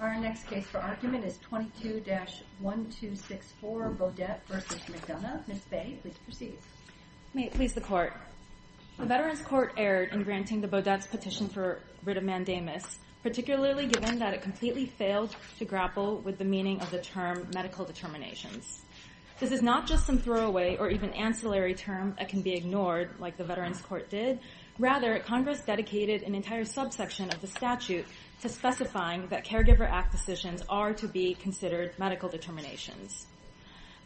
Our next case for argument is 22-1264 Beaudette v. McDonough. Ms. Bay, please proceed. May it please the Court. The Veterans Court erred in granting the Beaudette's petition for writ of mandamus, particularly given that it completely failed to grapple with the meaning of the term medical determinations. This is not just some throwaway or even ancillary term that can be ignored, like the Veterans Court did. Rather, Congress dedicated an entire subsection of the statute to specifying that caregiver act decisions are to be considered medical determinations.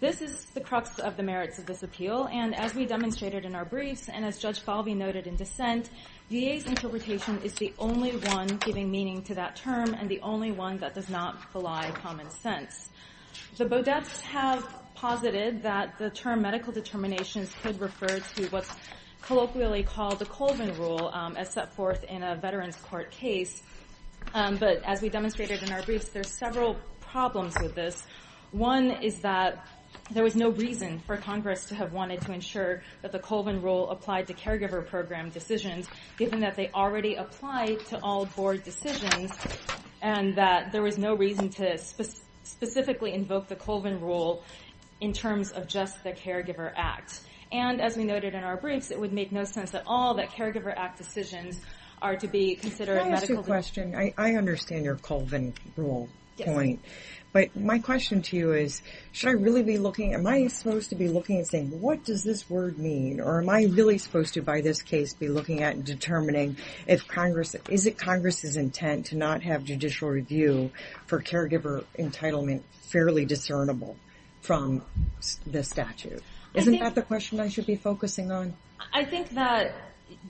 This is the crux of the merits of this appeal. And as we demonstrated in our briefs, and as Judge Falvey noted in dissent, VA's interpretation is the only one giving meaning to that term and the only one that does not belie common sense. The Beaudettes have posited that the term medical determinations could refer to what's colloquially called the Colvin rule as set forth in a Veterans Court case. But as we demonstrated in our briefs, there's several problems with this. One is that there was no reason for Congress to have wanted to ensure that the Colvin rule applied to caregiver program decisions, given that they already applied to all board decisions, and that there was no reason to specifically invoke the Colvin rule in terms of just the caregiver act. And as we noted in our briefs, it would make no sense at all that caregiver act decisions are to be considered medical determinations. I understand your Colvin rule point. But my question to you is, should I really be looking? Am I supposed to be looking and saying, what does this word mean? Or am I really supposed to, by this case, be looking at and determining if Congress, is it Congress's intent to not have judicial review for caregiver entitlement fairly discernible from the statute? Isn't that the question I should be focusing on? I think that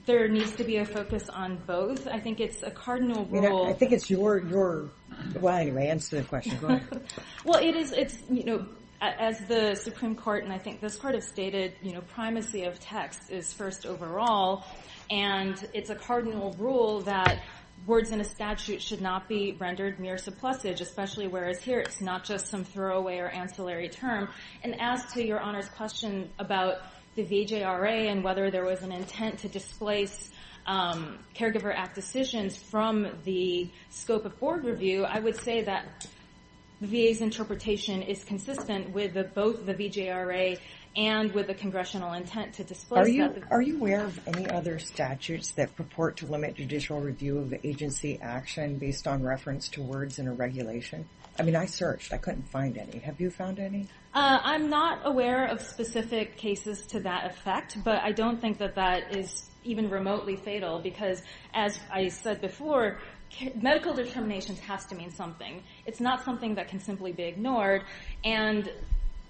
there needs to be a focus on both. I think it's a cardinal rule. I think it's your, your, well, anyway, answer the question. Go ahead. Well, it's, as the Supreme Court, and I think this Court has stated, primacy of text is first overall. And it's a cardinal rule that words in a statute should not be rendered mere supplesage, especially whereas here, it's not just some throwaway or ancillary term. And as to your Honor's question about the VJRA and whether there was an intent to displace Caregiver Act decisions from the scope of board review, I would say that the VA's interpretation is consistent with both the VJRA and with the Congressional intent to displace that. Are you aware of any other statutes that purport to limit judicial review of agency action based on reference to words in a regulation? I mean, I searched. I couldn't find any. Have you found any? I'm not aware of specific cases to that effect, but I don't think that that is even remotely fatal because, as I said before, medical determinations has to mean something. It's not something that can simply be ignored. And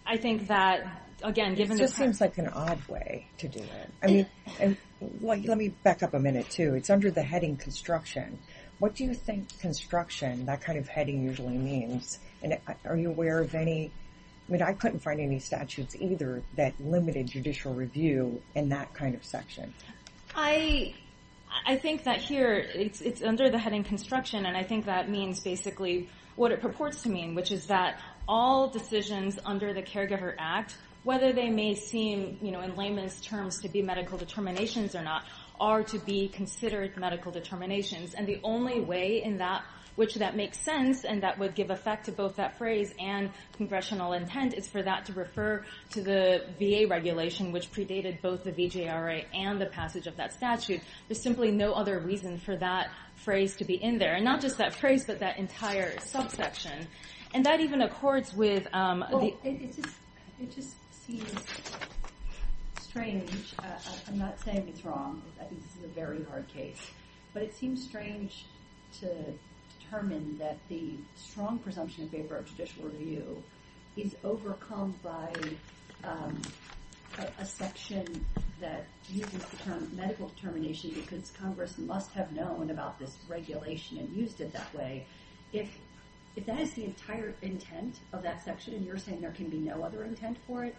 I think that, again, given the time. It just seems like an odd way to do it. I mean, let me back up a minute too. It's under the heading construction. What do you think construction, that kind of heading usually means? And are you aware of any, I mean, I couldn't find any statutes either that limited judicial review in that kind of section. I think that here, it's under the heading construction. And I think that means basically what it purports to mean, which is that all decisions under the Caregiver Act, whether they may seem in layman's terms to be medical determinations or not, are to be considered medical determinations. And the only way in that, which that makes sense, and that would give effect to both that phrase and congressional intent, is for that to refer to the VA regulation, which predated both the VJRA and the passage of that statute. There's simply no other reason for that phrase to be in there. And not just that phrase, but that entire subsection. And that even accords with the... It just seems strange. I'm not saying it's wrong. I think this is a very hard case. But it seems strange to determine that the strong presumption in favor of judicial review is overcome by a section that uses the term medical determination because Congress must have known about this regulation and used it that way. If that is the entire intent of that section, and you're saying there can be no other intent for it,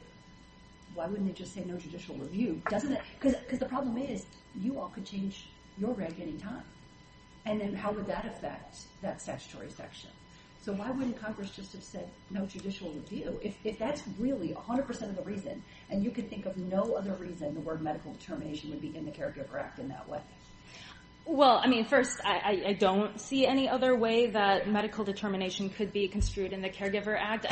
why wouldn't it just say no judicial review? Doesn't it? Because the problem is, you all could change your reg anytime. And then how would that affect that statutory section? So why wouldn't Congress just have said no judicial review? If that's really 100% of the reason, and you could think of no other reason the word medical determination would be in the Caregiver Act in that way. Well, I mean, first, I don't see any other way that medical determination could be construed in the Caregiver Act.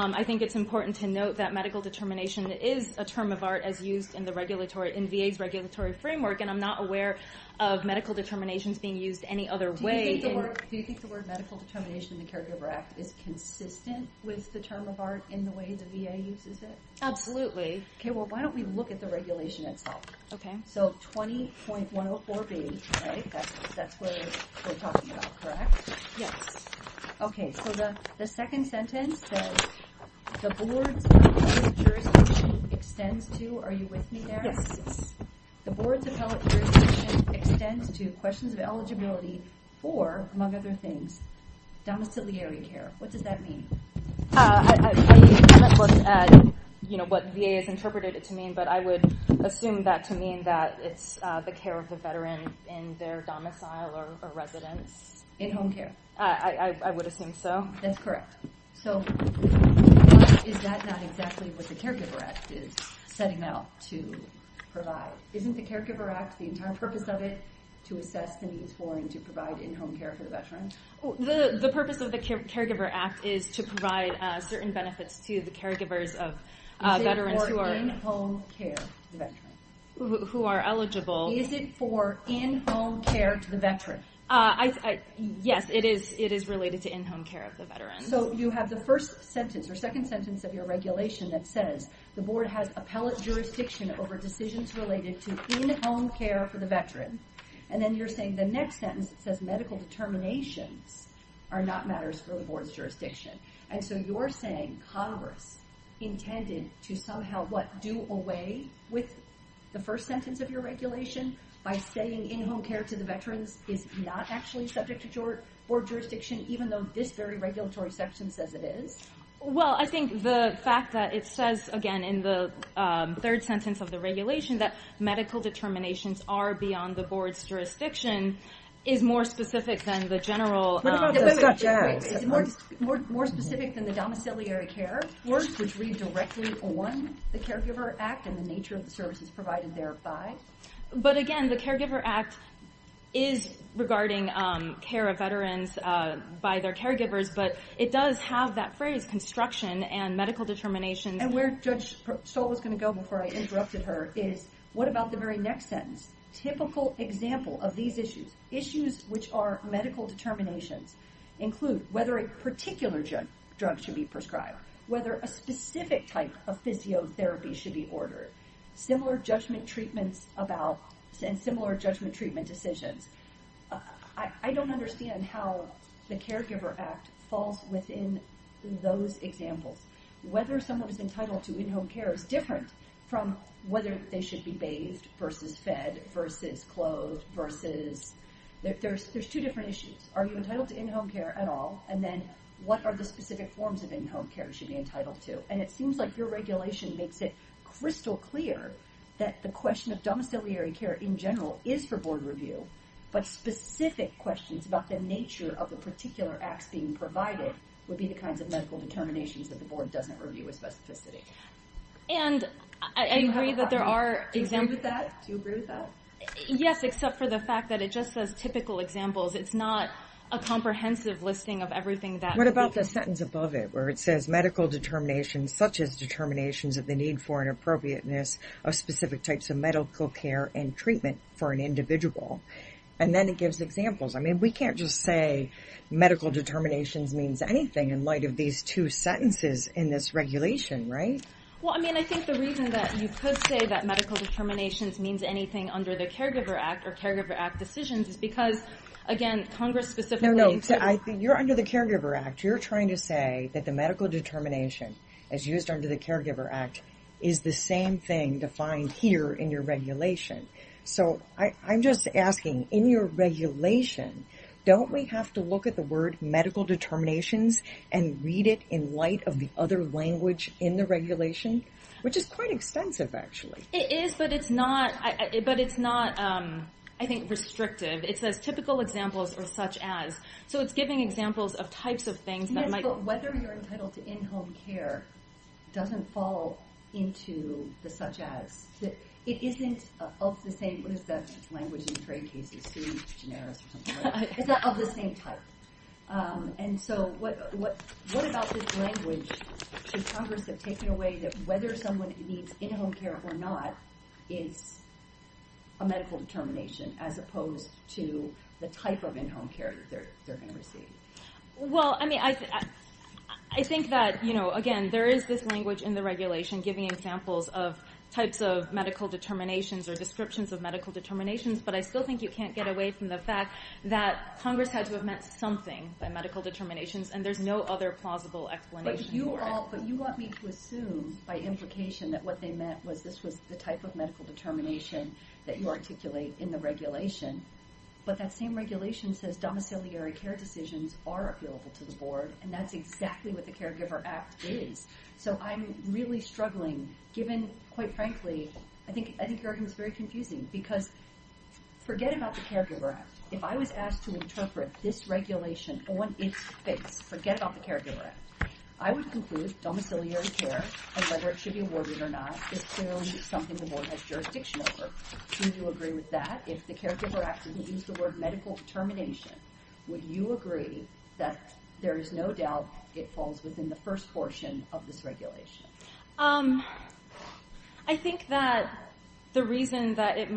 I think it's important to note that medical determination is a term of art as used in the regulatory, in VA's regulatory framework. And I'm not aware of medical determinations being used any other way. Do you think the word medical determination in the Caregiver Act is consistent with the term of art in the way the VA uses it? Absolutely. Okay, well, why don't we look at the regulation itself? Okay. So 20.104B, right? That's what we're talking about, correct? Yes. Okay, so the second sentence says, the board's appellate jurisdiction extends to, are you with me there? Yes. The board's appellate jurisdiction extends to questions of eligibility for, among other things, domiciliary care. What does that mean? I haven't looked at what VA has interpreted it to mean, but I would assume that to mean that it's the care of the veteran in their domicile or residence. In home care. I would assume so. That's correct. So is that not exactly what the Caregiver Act is setting out to provide? Isn't the Caregiver Act, the entire purpose of it, to assess the needs for and to provide in-home care for the veteran? The purpose of the Caregiver Act is to provide certain benefits to the caregivers of veterans who are in-home care to the veteran. Who are eligible. Is it for in-home care to the veteran? Yes, it is related to in-home care of the veteran. So you have the first sentence, or second sentence of your regulation that says, the board has appellate jurisdiction over decisions related to in-home care for the veteran. And then you're saying the next sentence says, medical determinations are not matters for the board's jurisdiction. And so you're saying Congress intended to somehow, what, do away with the first sentence of your regulation by saying in-home care to the veterans is not actually subject to board jurisdiction, even though this very regulatory section says it is? Well, I think the fact that it says, again, in the third sentence of the regulation, that medical determinations are beyond the board's jurisdiction is more specific than the general- What about those- They've got jobs. Is it more specific than the domiciliary care? Words which read directly on the Caregiver Act and the nature of the services provided thereby? But again, the Caregiver Act is regarding care of veterans by their caregivers, but it does have that phrase, construction and medical determinations. And where Judge Stoll was gonna go before I interrupted her is, what about the very next sentence? Typical example of these issues, issues which are medical determinations, include whether a particular drug should be prescribed, whether a specific type of physiotherapy should be ordered, similar judgment treatments about, and similar judgment treatment decisions. I don't understand how the Caregiver Act falls within those examples. Whether someone is entitled to in-home care is different from whether they should be bathed versus fed versus clothed versus, there's two different issues. Are you entitled to in-home care at all? And then what are the specific forms of in-home care should be entitled to? And it seems like your regulation makes it crystal clear that the question of domiciliary care in general is for board review, but specific questions about the nature of the particular acts being provided would be the kinds of medical determinations that the board doesn't review with specificity. And I agree that there are examples. Do you agree with that? Yes, except for the fact that it just says typical examples. It's not a comprehensive listing of everything that. What about the sentence above it where it says medical determinations, such as determinations of the need for and appropriateness of specific types of medical care and treatment for an individual? And then it gives examples. I mean, we can't just say medical determinations means anything in light of these two sentences in this regulation, right? Well, I mean, I think the reason that you could say that medical determinations means anything under the Caregiver Act or Caregiver Act decisions is because, again, Congress specifically. No, no, you're under the Caregiver Act. You're trying to say that the medical determination as used under the Caregiver Act is the same thing defined here in your regulation. So I'm just asking, in your regulation, don't we have to look at the word medical determinations and read it in light of the other language in the regulation? Which is quite extensive, actually. It is, but it's not, I think, restrictive. It says typical examples or such as. So it's giving examples of types of things that might- Yes, but whether you're entitled to in-home care doesn't fall into the such as. It isn't of the same, what is that language in trade cases? It's too generous or something like that. It's of the same type. And so what about this language should Congress have taken away that whether someone needs in-home care or not is a medical determination as opposed to the type of in-home care that they're gonna receive? Well, I mean, I think that, again, there is this language in the regulation giving examples of types of medical determinations or descriptions of medical determinations, but I still think you can't get away from the fact that Congress had to have meant something by medical determinations, and there's no other plausible explanation for it. But you want me to assume by implication that what they meant was this was the type of medical determination that you articulate in the regulation, but that same regulation says domiciliary care decisions are available to the board, and that's exactly what the Caregiver Act is. So I'm really struggling, given, quite frankly, I think your argument's very confusing because forget about the Caregiver Act. If I was asked to interpret this regulation on its face, forget about the Caregiver Act, I would conclude domiciliary care and whether it should be awarded or not is clearly something the board has jurisdiction over. Do you agree with that? If the Caregiver Act would use the word medical determination would you agree that there is no doubt it falls within the first portion of this regulation? I think that the reason that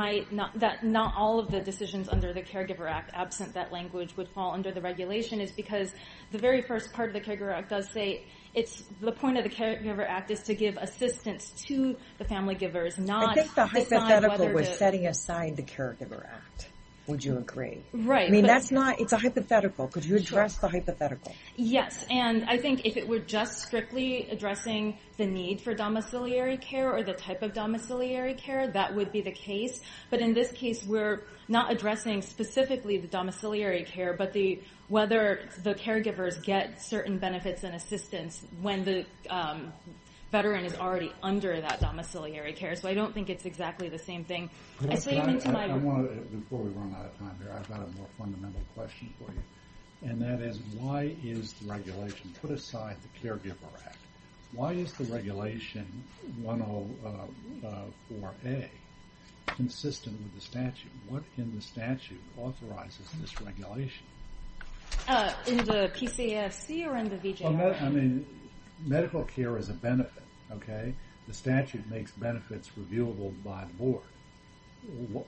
not all of the decisions under the Caregiver Act, absent that language, would fall under the regulation is because the very first part of the Caregiver Act does say the point of the Caregiver Act is to give assistance to the family givers, not to decide whether to- I think the hypothetical was setting aside the Caregiver Act, would you agree? Right, but- I mean, it's a hypothetical. Could you address the hypothetical? Yes, and I think if it were just strictly addressing the need for domiciliary care or the type of domiciliary care, that would be the case. But in this case we're not addressing specifically the domiciliary care, but whether the caregivers get certain benefits and assistance when the veteran is already under that domiciliary care. So I don't think it's exactly the same thing. I say even to my- I wanna, before we run out of time here, I've got a more fundamental question for you. And that is, why is the regulation put aside the Caregiver Act? Why is the Regulation 104A consistent with the statute? What in the statute authorizes this regulation? In the PCFC or in the VJR? I mean, medical care is a benefit, okay? The statute makes benefits reviewable by the board.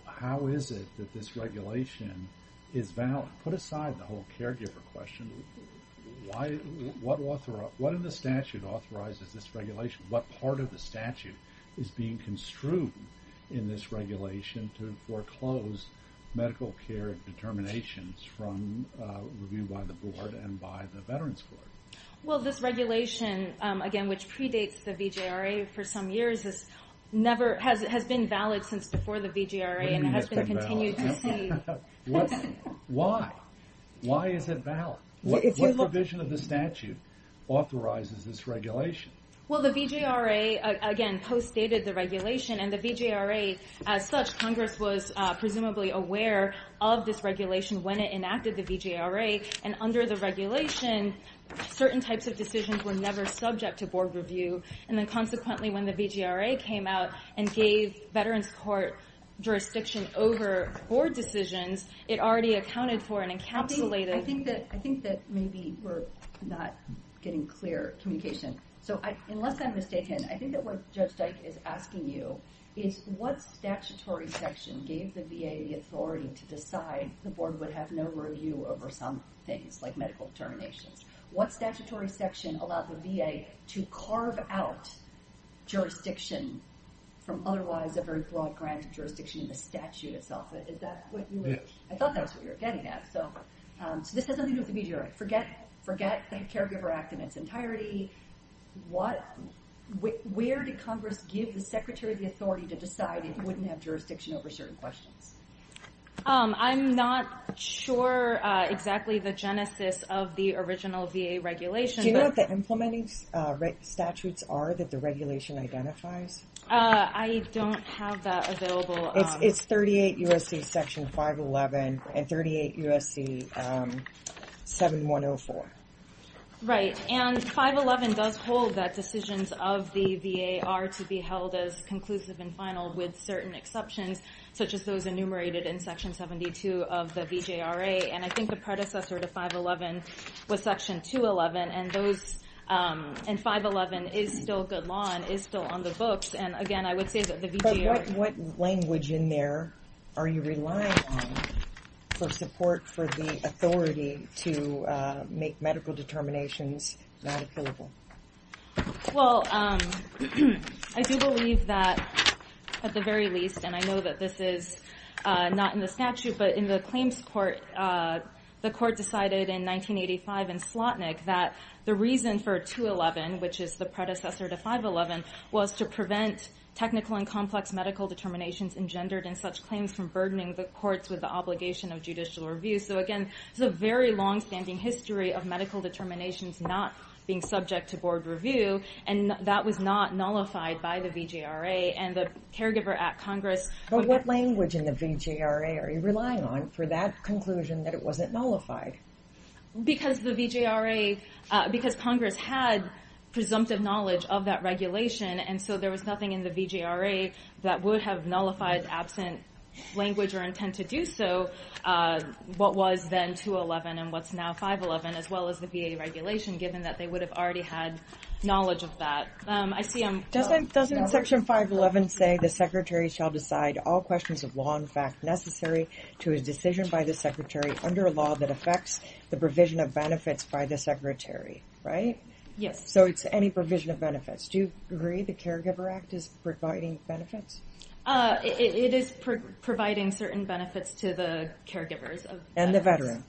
How is it that this regulation is valid? Put aside the whole caregiver question. Why, what in the statute authorizes this regulation? What part of the statute is being construed in this regulation to foreclose medical care determinations from review by the board and by the Veterans Court? Well, this regulation, again, which predates the VJRA for some years, has never, has been valid since before the VJRA and has been continued to see- What, why? Why is it valid? What provision of the statute authorizes this regulation? Well, the VJRA, again, postdated the regulation and the VJRA, as such, Congress was presumably aware of this regulation when it enacted the VJRA. And under the regulation, certain types of decisions were never subject to board review. And then consequently, when the VJRA came out and gave Veterans Court jurisdiction over board decisions, it already accounted for an encapsulated- I think that maybe we're not getting clear communication. So unless I'm mistaken, I think that what Judge Dyke is asking you is what statutory section gave the VA the authority to decide the board would have no review over some things, like medical determinations? What statutory section allowed the VA to carve out jurisdiction from otherwise a very broad grant of jurisdiction in the statute itself? Is that what you were- Yes. I thought that's what you were getting at. So this has nothing to do with the VJRA. Forget the Caregiver Act in its entirety. Where did Congress give the Secretary the authority to decide it wouldn't have jurisdiction over certain questions? I'm not sure exactly the genesis of the original VA regulation, but- Do you know what the implementing statutes are that the regulation identifies? I don't have that available. It's 38 U.S.C. Section 511 and 38 U.S.C. 7104. Right, and 511 does hold that decisions of the VA are to be held as conclusive and final with certain exceptions, such as those enumerated in Section 72 of the VJRA, and I think the predecessor to 511 was Section 211, and those, and 511 is still good law and is still on the books, and again, I would say that the VJRA- What language in there are you relying on for support for the authority to make medical determinations not appealable? Well, I do believe that, at the very least, and I know that this is not in the statute, but in the claims court, the court decided in 1985 in Slotnick that the reason for 211, which is the predecessor to 511, was to prevent technical and complex medical determinations engendered in such claims from burdening the courts with the obligation of judicial review, so again, it's a very long-standing history of medical determinations not being subject to board review, and that was not nullified by the VJRA, and the Caregiver Act Congress- But what language in the VJRA are you relying on for that conclusion that it wasn't nullified? Because the VJRA, because Congress had presumptive knowledge of that regulation, and so there was nothing in the VJRA that would have nullified absent language or intent to do so, what was then 211 and what's now 511, as well as the VA regulation, given that they would have already had knowledge of that. I see I'm- Doesn't section 511 say the Secretary shall decide all questions of law and fact necessary to a decision by the Secretary under a law that affects the provision of benefits by the Secretary, right? Yes. So it's any provision of benefits. Do you agree the Caregiver Act is providing benefits? It is providing certain benefits to the caregivers of veterans. And the veteran.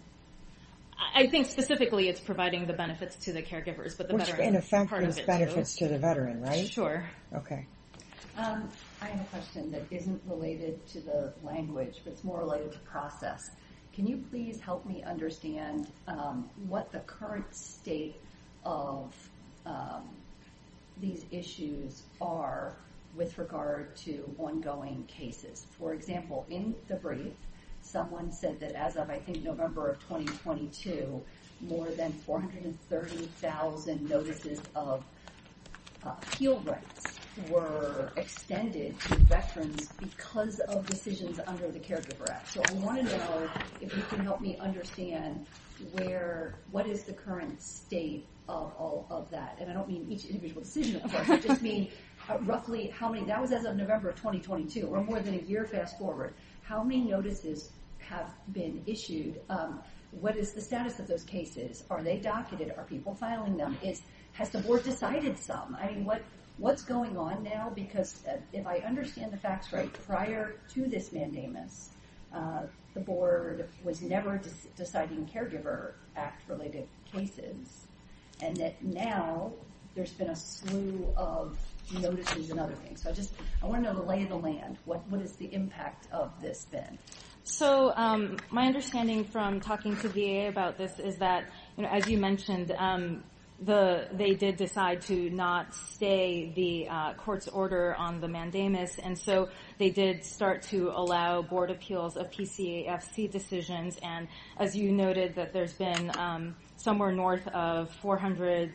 I think specifically it's providing the benefits to the caregivers, but the veteran is part of it, too. Which, in effect, is benefits to the veteran, right? Sure. Okay. I have a question that isn't related to the language, but it's more related to process. Can you please help me understand what the current state of these issues are with regard to ongoing cases? For example, in February, someone said that as of, I think, November of 2022, more than 430,000 notices of appeal rights were extended to veterans because of decisions under the Caregiver Act. So I want to know if you can help me understand what is the current state of all of that. And I don't mean each individual decision, of course. I just mean roughly how many, that was as of November of 2022, or more than a year fast forward. How many notices have been issued? What is the status of those cases? Are they docketed? Are people filing them? Has the board decided some? I mean, what's going on now? Because if I understand the facts right, prior to this mandamus, the board was never deciding Caregiver Act-related cases, and that now there's been a slew of notices and other things. So I just, I want to know the lay of the land. What is the impact of this then? So my understanding from talking to VA about this is that, as you mentioned, they did decide to not stay the court's order on the mandamus. And so they did start to allow board appeals of PCAFC decisions. And as you noted, that there's been somewhere north of 400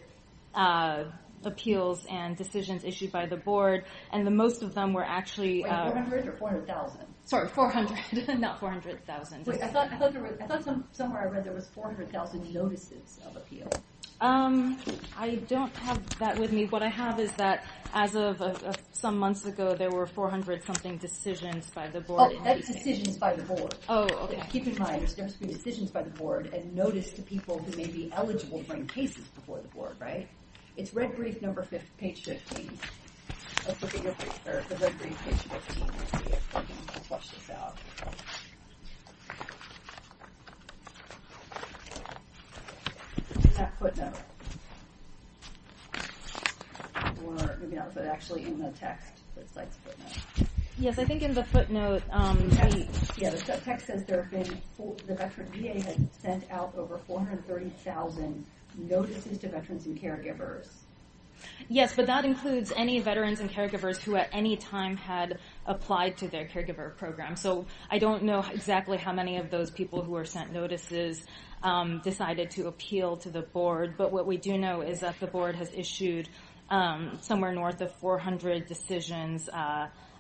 appeals and decisions issued by the board. And the most of them were actually- Wait, 400 or 400,000? Sorry, 400, not 400,000. Wait, I thought somewhere I read there was 400,000 notices of appeal. I don't have that with me. What I have is that as of some months ago, there were 400-something decisions by the board. Oh, that's decisions by the board. Oh, okay. Keep in mind, there's been decisions by the board and notice to people who may be eligible to bring cases before the board, right? It's red brief number page 15. Let's look at your page, or the red brief page 15. Let's see if I can flush this out. It's a half-foot note. Or maybe not, but actually in the text, it's a half-foot note. Yes, I think in the footnote- Yeah, the text says there have been, the veteran VA has sent out over 430,000 notices to veterans and caregivers. Yes, but that includes any veterans and caregivers who at any time had applied to their caregiver program. So I don't know exactly how many of those people who were sent notices decided to appeal to the board. But what we do know is that the board has issued somewhere north of 400 decisions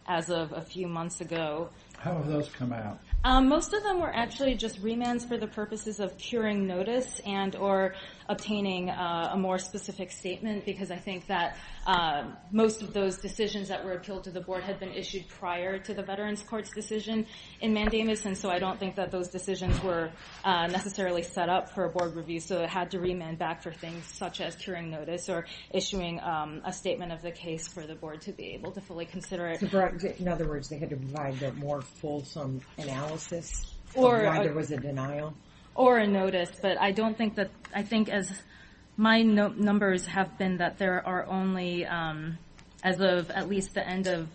as of a few months ago. How have those come out? Most of them were actually just remands for the purposes of curing notice and or obtaining a more specific statement because I think that most of those decisions that were appealed to the board had been issued prior to the veterans court's decision in mandamus. And so I don't think that those decisions were necessarily set up for a board review. So it had to remand back for things such as curing notice or issuing a statement of the case for the board to be able to fully consider it. In other words, they had to provide that more fulsome analysis of why there was a denial? Or a notice. But I don't think that, I think as my numbers have been that there are only as of at least the end of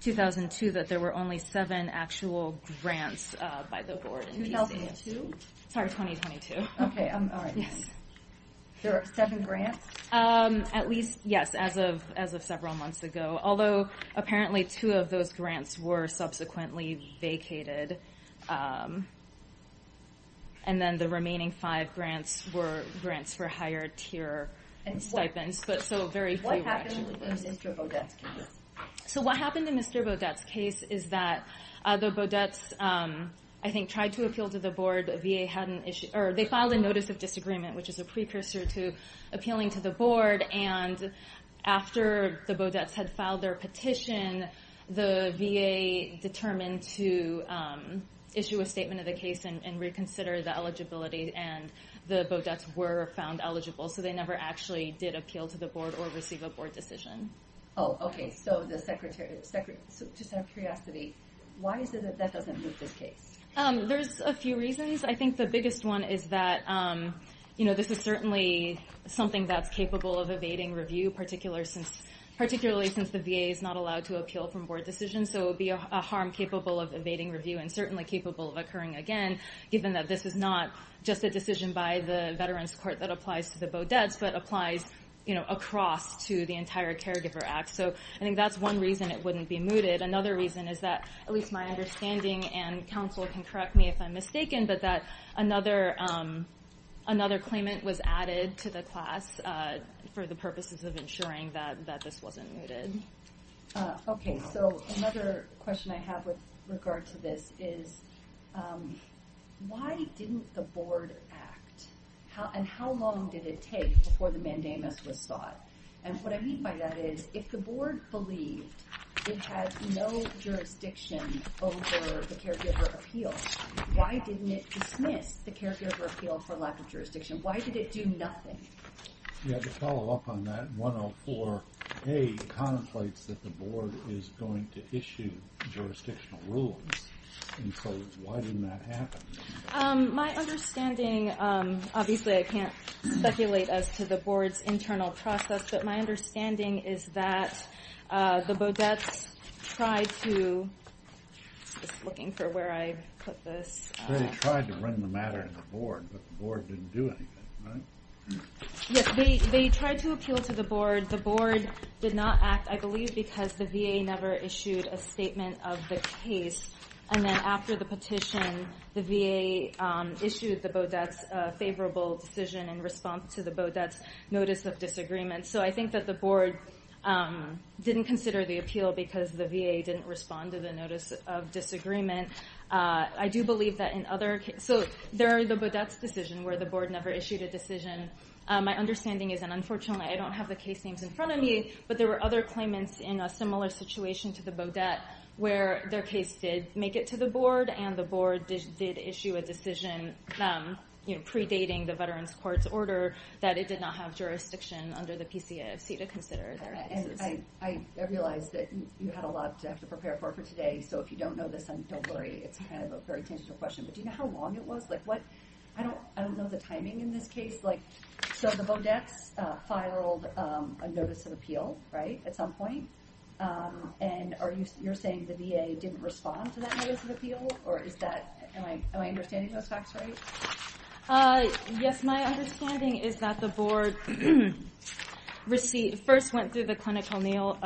2002 that there were only seven actual grants by the board. 2002? Sorry, 2022. Okay, all right. Yes. So seven grants? At least, yes, as of several months ago. Although apparently two of those grants were subsequently vacated. And then the remaining five grants were grants for higher tier stipends. But so very few actually. What happened in Mr. Baudet's case? So what happened in Mr. Baudet's case is that the Baudets, I think, tried to appeal to the board. VA hadn't issued, or they filed a notice of disagreement which is a precursor to appealing to the board. And after the Baudets had filed their petition, the VA determined to issue a statement of the case and reconsider the eligibility. And the Baudets were found eligible. So they never actually did appeal to the board or receive a board decision. Oh, okay. So just out of curiosity, why is it that that doesn't move this case? There's a few reasons. I think the biggest one is that this is certainly something that's capable of evading review, particularly since the VA is not allowed to appeal from board decisions. So it would be a harm capable of evading review and certainly capable of occurring again, given that this is not just a decision by the Veterans Court that applies to the Baudets, but applies across to the entire Caregiver Act. So I think that's one reason it wouldn't be mooted. Another reason is that, at least my understanding, and counsel can correct me if I'm mistaken, but that another claimant was added to the class for the purposes of ensuring that this wasn't mooted. Okay, so another question I have with regard to this is, why didn't the board act? And how long did it take before the mandamus was sought? And what I mean by that is, if the board believed it had no jurisdiction over the Caregiver Appeal, why didn't it dismiss the Caregiver Appeal for lack of jurisdiction? Why did it do nothing? Yeah, to follow up on that, 104A contemplates that the board is going to issue jurisdictional rules. And so why didn't that happen? My understanding, obviously I can't speculate as to the board's internal process, but my understanding is that the Baudets tried to, just looking for where I put this. They tried to run the matter to the board, but the board didn't do anything, right? Yes, they tried to appeal to the board. The board did not act, I believe, because the VA never issued a statement of the case. And then after the petition, the VA issued the Baudets a favorable decision in response to the Baudets' notice of disagreement. So I think that the board didn't consider the appeal because the VA didn't respond to the notice of disagreement. I do believe that in other, so there are the Baudets' decision where the board never issued a decision. My understanding is, and unfortunately, I don't have the case names in front of me, but there were other claimants in a similar situation to the Baudet where their case did make it to the board and the board did issue a decision predating the Veterans Courts order that it did not have jurisdiction under the PCAFC to consider their decision. I realize that you had a lot to have to prepare for for today. So if you don't know this, then don't worry. It's kind of a very tangential question. But do you know how long it was? I don't know the timing in this case. So the Baudets filed a notice of appeal, right, at some point. And you're saying the VA didn't respond to that notice of appeal? Or is that, am I understanding those facts right? Yes, my understanding is that the board first went through the clinical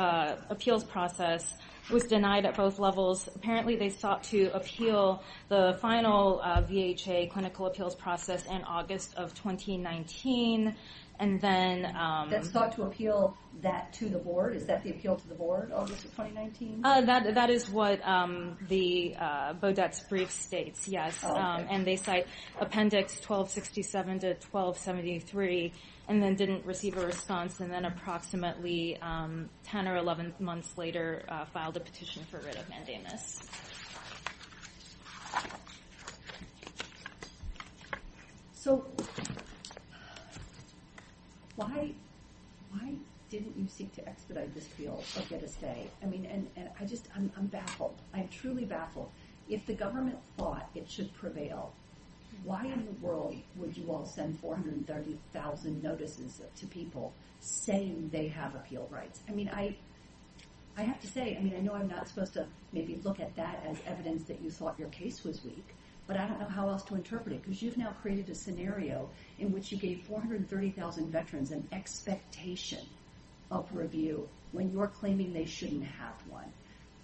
appeals process, was denied at both levels. Apparently, they sought to appeal the final VHA clinical appeals process in August of 2019. And then- That sought to appeal that to the board? Is that the appeal to the board, August of 2019? That is what the Baudet's brief states, yes. And they cite appendix 1267 to 1273 and then didn't receive a response and then approximately 10 or 11 months later filed a petition for writ of mandamus. So why didn't you seek to expedite this appeal or get a stay? I mean, and I just, I'm baffled. I'm truly baffled. If the government thought it should prevail, why in the world would you all send 430,000 notices to people saying they have appeal rights? I mean, I have to say, I mean, I know I'm not supposed to maybe look at that as evidence that you thought your case was weak, but I don't know how else to interpret it because you've now created a scenario in which you gave 430,000 veterans an expectation of review when you're claiming they shouldn't have one.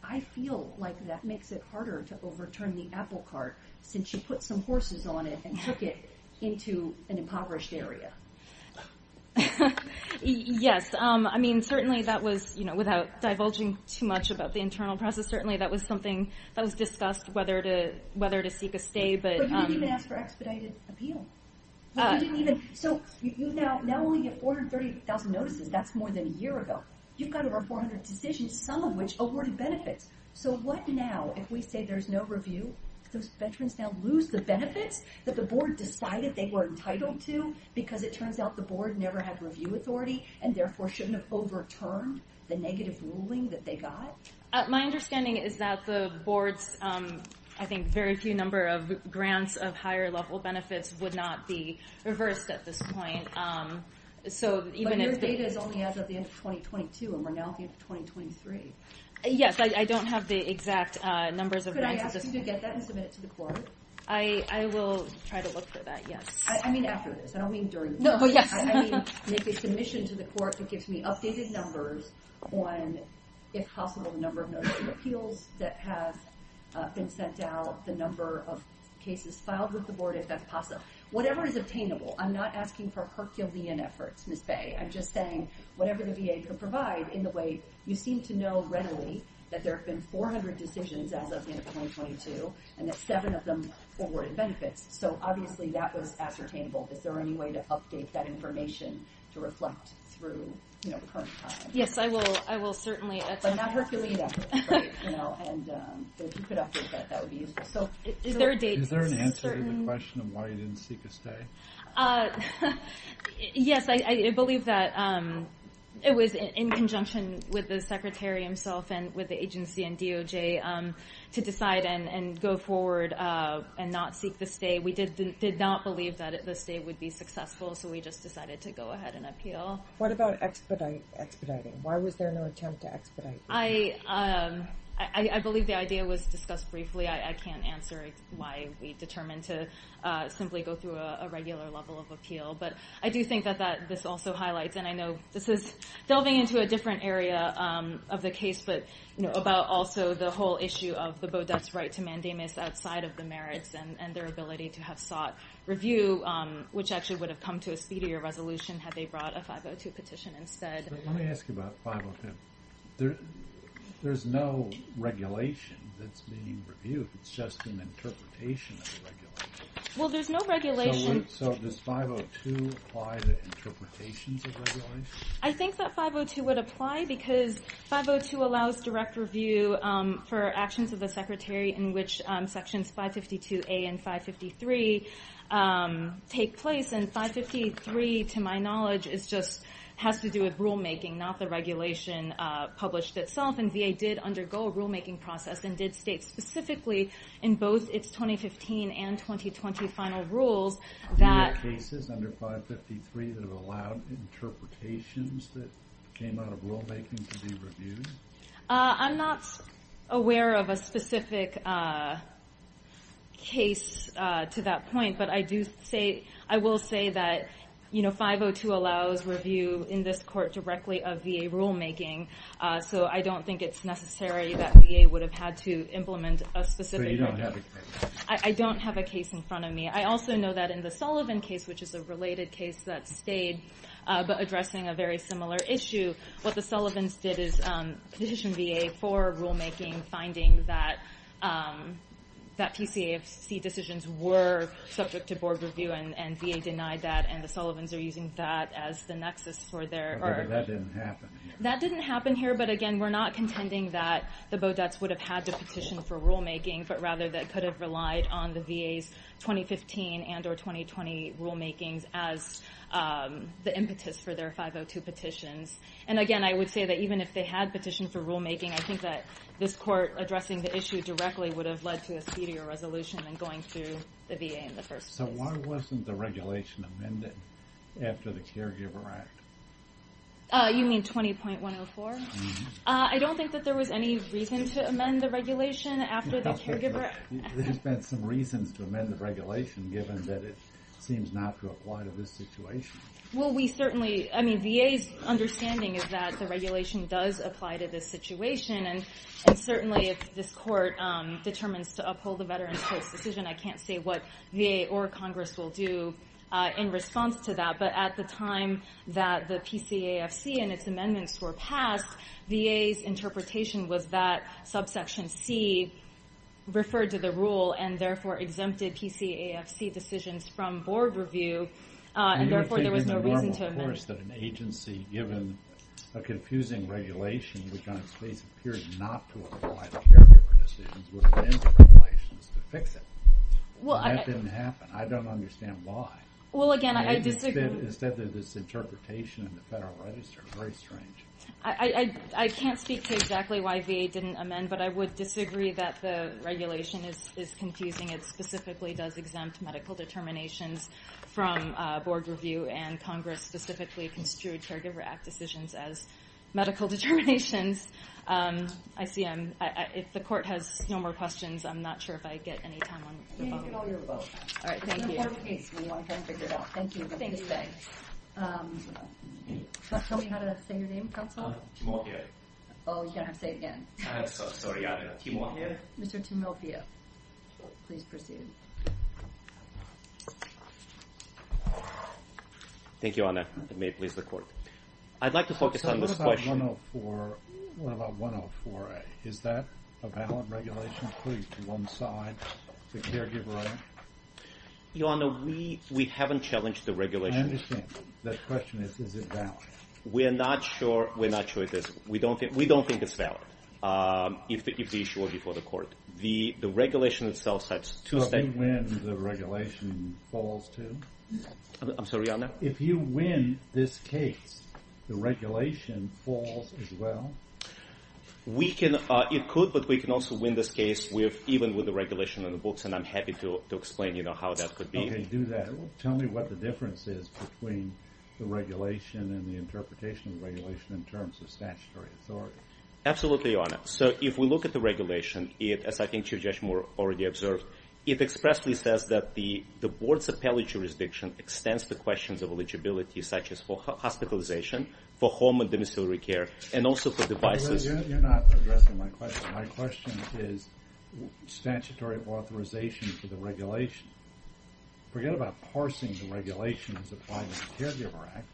I feel like that makes it harder to overturn the apple cart since you put some horses on it and took it into an impoverished area. Yes. I mean, certainly that was, you know, without divulging too much about the internal process, certainly that was something that was discussed, whether to seek a stay. But you didn't even ask for expedited appeal. So you now only get 430,000 notices. That's more than a year ago. You've got over 400 decisions, some of which awarded benefits. So what now if we say there's no review? Those veterans now lose the benefits that the board decided they were entitled to because it turns out the board never had review authority and therefore shouldn't have overturned the negative ruling that they got? My understanding is that the board's, I think, very few number of grants of higher-level benefits would not be reversed at this point. So even if they... But your data is only as of the end of 2022 and we're now at the end of 2023. Yes, I don't have the exact numbers of grants... Could I ask you to get that and submit it to the court? I will try to look for that, yes. I mean after this. I don't mean during the hearing. No, yes. I mean make a submission to the court that gives me updated numbers on, if possible, the number of notice of appeals that have been sent out, the number of cases filed with the board, if that's possible. Whatever is obtainable. I'm not asking for Herculean efforts, Ms. Bay. I'm just saying whatever the VA can provide in the way you seem to know readily that there have been 400 decisions as of the end of 2022 and that seven of them awarded benefits. So obviously that was ascertainable. Is there any way to update that information to reflect through the current time? Yes, I will certainly... But not Herculean efforts, right? And if you could update that, that would be useful. So is there a date? Is there an answer to the question of why you didn't seek a stay? Yes, I believe that it was in conjunction with the secretary himself and with the agency and DOJ to decide and go forward and not seek the stay. We did not believe that the stay would be successful. So we just decided to go ahead and appeal. What about expediting? Why was there no attempt to expedite? I believe the idea was discussed briefly. I can't answer why we determined to simply go through a regular level of appeal. But I do think that this also highlights, and I know this is delving into a different area of the case, but about also the whole issue of the Bodette's right to mandamus outside of the merits and their ability to have sought review, which actually would have come to a speedier resolution had they brought a 502 petition instead. But let me ask you about 502. There's no regulation that's being reviewed. It's just an interpretation of the regulation. Well, there's no regulation. So does 502 apply to interpretations of regulation? I think that 502 would apply because 502 allows direct review for actions of the Secretary in which sections 552A and 553 take place. And 553, to my knowledge, it just has to do with rulemaking, not the regulation published itself. And VA did undergo a rulemaking process and did state specifically in both its 2015 and 2020 final rules that- Do you have cases under 553 that have allowed interpretations that came out of rulemaking to be reviewed? I'm not aware of a specific case to that point, but I will say that 502 allows review in this court directly of VA rulemaking. So I don't think it's necessary that VA would have had to implement a specific- So you don't have a case? I don't have a case in front of me. I also know that in the Sullivan case, which is a related case that stayed, but addressing a very similar issue, what the Sullivans did is petition VA for rulemaking, finding that PCAFC decisions were subject to board review and VA denied that. And the Sullivans are using that as the nexus for their- That didn't happen. That didn't happen here. But again, we're not contending that the Beaudets would have had to petition for rulemaking, but rather that could have relied on the VA's 2015 and or 2020 rulemakings as the impetus for their 502 petitions. And again, I would say that even if they had petitioned for rulemaking, I think that this court addressing the issue directly would have led to a speedier resolution than going through the VA in the first place. So why wasn't the regulation amended after the Caregiver Act? You mean 20.104? I don't think that there was any reason to amend the regulation after the Caregiver- There has been some reasons to amend the regulation given that it seems not to apply to this situation. Well, we certainly, I mean, VA's understanding is that the regulation does apply to this situation. And certainly if this court determines to uphold the Veterans Court's decision, I can't say what VA or Congress will do in response to that. But at the time that the PCAFC and its amendments were passed VA's interpretation was that subsection C referred to the rule and therefore exempted PCAFC decisions from board review. And therefore there was no reason to amend- You're taking the normal course that an agency, given a confusing regulation which on its face appeared not to apply to caregiver decisions would amend the regulations to fix it. Well, I- And that didn't happen. I don't understand why. Well, again, I disagree- Instead of this interpretation in the Federal Register, very strange. I can't speak to exactly why VA didn't amend, but I would disagree that the regulation is confusing. It specifically does exempt medical determinations from board review and Congress specifically construed Caregiver Act decisions as medical determinations. I see I'm, if the court has no more questions, I'm not sure if I get any time on the phone. Yeah, you get all your vote. All right, thank you. It's an important case. We want to try and figure it out. Thank you. Thank you. Can you tell me how to say your name, Counselor? Jamal Gay. Oh, you're gonna have to say it again. I'm so sorry, I don't know. Timofeo? Mr. Timofeo, please proceed. Thank you, Your Honor. May it please the court. I'd like to focus on this question- Counselor, what about 104, what about 104A? Is that a valid regulation, please, to one side, the Caregiver Act? Your Honor, we haven't challenged the regulation. I understand. The question is, is it valid? We're not sure. We're not sure it is. We don't think it's valid, if the issue were before the court. The regulation itself sets two- If you win, the regulation falls, too? I'm sorry, Your Honor? If you win this case, the regulation falls as well? We can, it could, but we can also win this case even with the regulation on the books, and I'm happy to explain how that could be. Tell me what the difference is between the regulation and the interpretation of the regulation in terms of statutory authority. Absolutely, Your Honor. So if we look at the regulation, as I think Chief Judge Moore already observed, it expressly says that the board's appellate jurisdiction extends the questions of eligibility, such as for hospitalization, for home and domiciliary care, and also for devices. You're not addressing my question. My question is statutory authorization for the regulation. Forget about parsing the regulations applied in the Caregiver Act.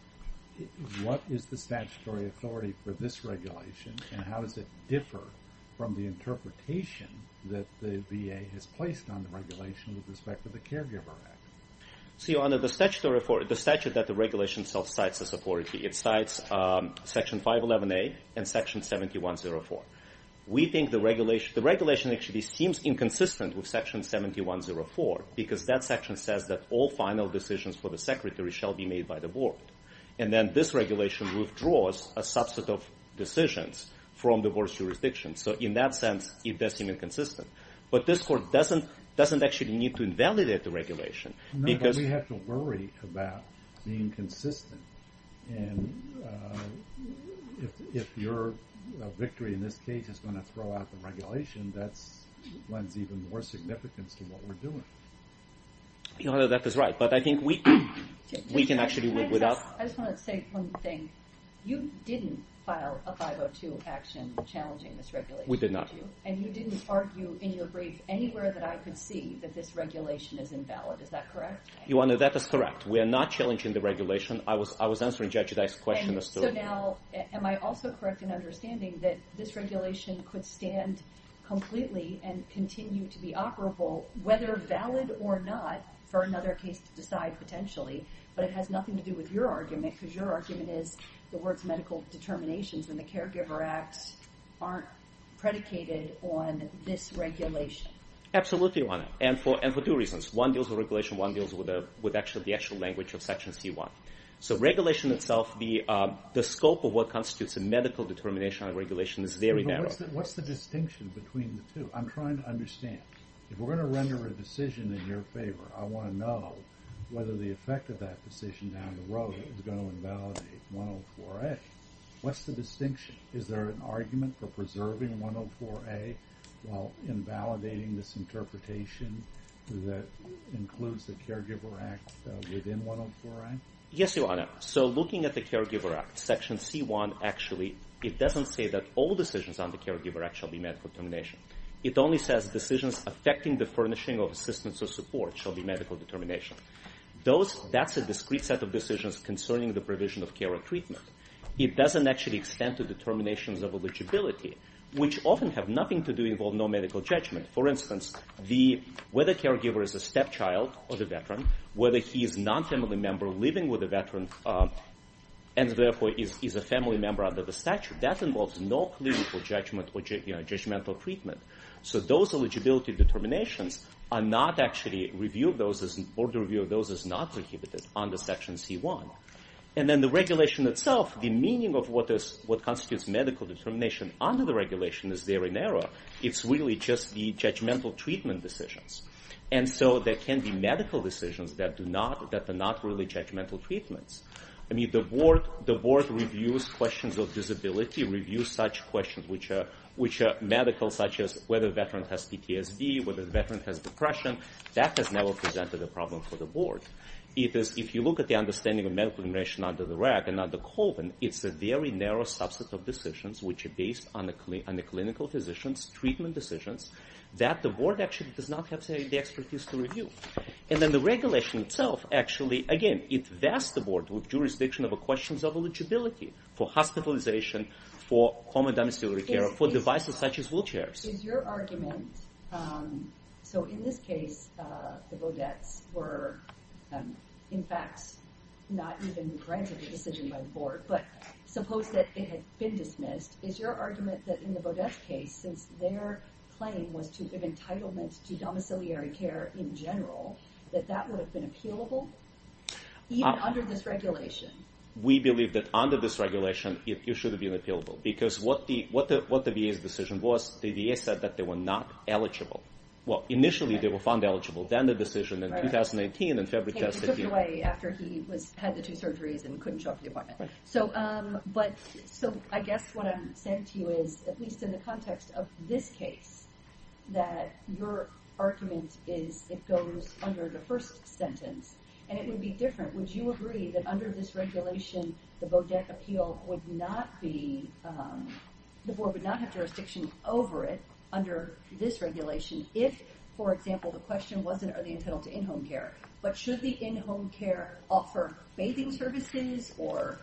What is the statutory authority for this regulation, and how does it differ from the interpretation that the VA has placed on the regulation with respect to the Caregiver Act? So, Your Honor, the statute that the regulation itself cites as authority, it cites Section 511A and Section 7104. We think the regulation, the regulation actually seems inconsistent with Section 7104 because that section says that all final decisions for the Secretary shall be made by the board. And then this regulation withdraws a subset of decisions from the board's jurisdiction. So in that sense, it does seem inconsistent. But this court doesn't actually need to invalidate the regulation because- No, but we have to worry about being consistent. And if your victory in this case is gonna throw out the regulation, that lends even more significance to what we're doing. Your Honor, that is right. But I think we can actually work without- I just wanted to say one thing. You didn't file a 502 action challenging this regulation, did you? We did not. And you didn't argue in your brief anywhere that I could see that this regulation is invalid. Is that correct? Your Honor, that is correct. We are not challenging the regulation. I was answering Judge Dyke's question as to- And so now, am I also correct in understanding that this regulation could stand completely and continue to be operable, whether valid or not, for another case to decide potentially but it has nothing to do with your argument because your argument is the words medical determinations in the Caregiver Act aren't predicated on this regulation. Absolutely, Your Honor. And for two reasons. One deals with regulation, one deals with the actual language of Section C1. So regulation itself, the scope of what constitutes a medical determination on regulation is very narrow. What's the distinction between the two? I'm trying to understand. If we're going to render a decision in your favor, I want to know whether the effect of that decision down the road is going to invalidate 104A. What's the distinction? Is there an argument for preserving 104A while invalidating this interpretation that includes the Caregiver Act within 104A? Yes, Your Honor. So looking at the Caregiver Act, Section C1, actually, it doesn't say that all decisions on the Caregiver Act shall be medical determination. It only says decisions affecting the furnishing of assistance or support shall be medical determination. That's a discrete set of decisions concerning the provision of care or treatment. It doesn't actually extend to determinations of eligibility, which often have nothing to do, involve no medical judgment. For instance, whether a caregiver is a stepchild or the veteran, whether he is a non-family member living with a veteran, and therefore, is a family member under the statute, that involves no clinical judgment or judgmental treatment. So those eligibility determinations are not actually review of those, or the review of those is not prohibited under Section C1. And then the regulation itself, the meaning of what constitutes medical determination under the regulation is there in error. It's really just the judgmental treatment decisions. And so there can be medical decisions that are not really judgmental treatments. I mean, the board reviews questions of disability, reviews such questions, which are medical, such as whether a veteran has PTSD, whether the veteran has depression. That has never presented a problem for the board. It is, if you look at the understanding of medical determination under the RAC and under Colvin, it's a very narrow subset of decisions which are based on the clinical physicians' treatment decisions that the board actually does not have, say, the expertise to review. And then the regulation itself actually, again, it vests the board with jurisdiction of questions of eligibility for hospitalization, for home and domiciliary care, for devices such as wheelchairs. Is your argument, so in this case, the Baudets were, in fact, not even granted a decision by the board, but suppose that it had been dismissed. Is your argument that in the Baudets' case, since their claim was to give entitlements to domiciliary care in general, that that would have been appealable, even under this regulation? We believe that under this regulation, it should have been appealable, because what the VA's decision was, the VA said that they were not eligible. Well, initially, they were found eligible. Then the decision in 2018, in February, passed the deal. Took it away after he had the two surgeries and couldn't show up to the appointment. So I guess what I'm saying to you is, at least in the context of this case, that your argument is it goes under the first sentence, and it would be different. Would you agree that under this regulation, the Baudet appeal would not be, the board would not have jurisdiction over it under this regulation if, for example, the question wasn't, are they entitled to in-home care? But should the in-home care offer bathing services or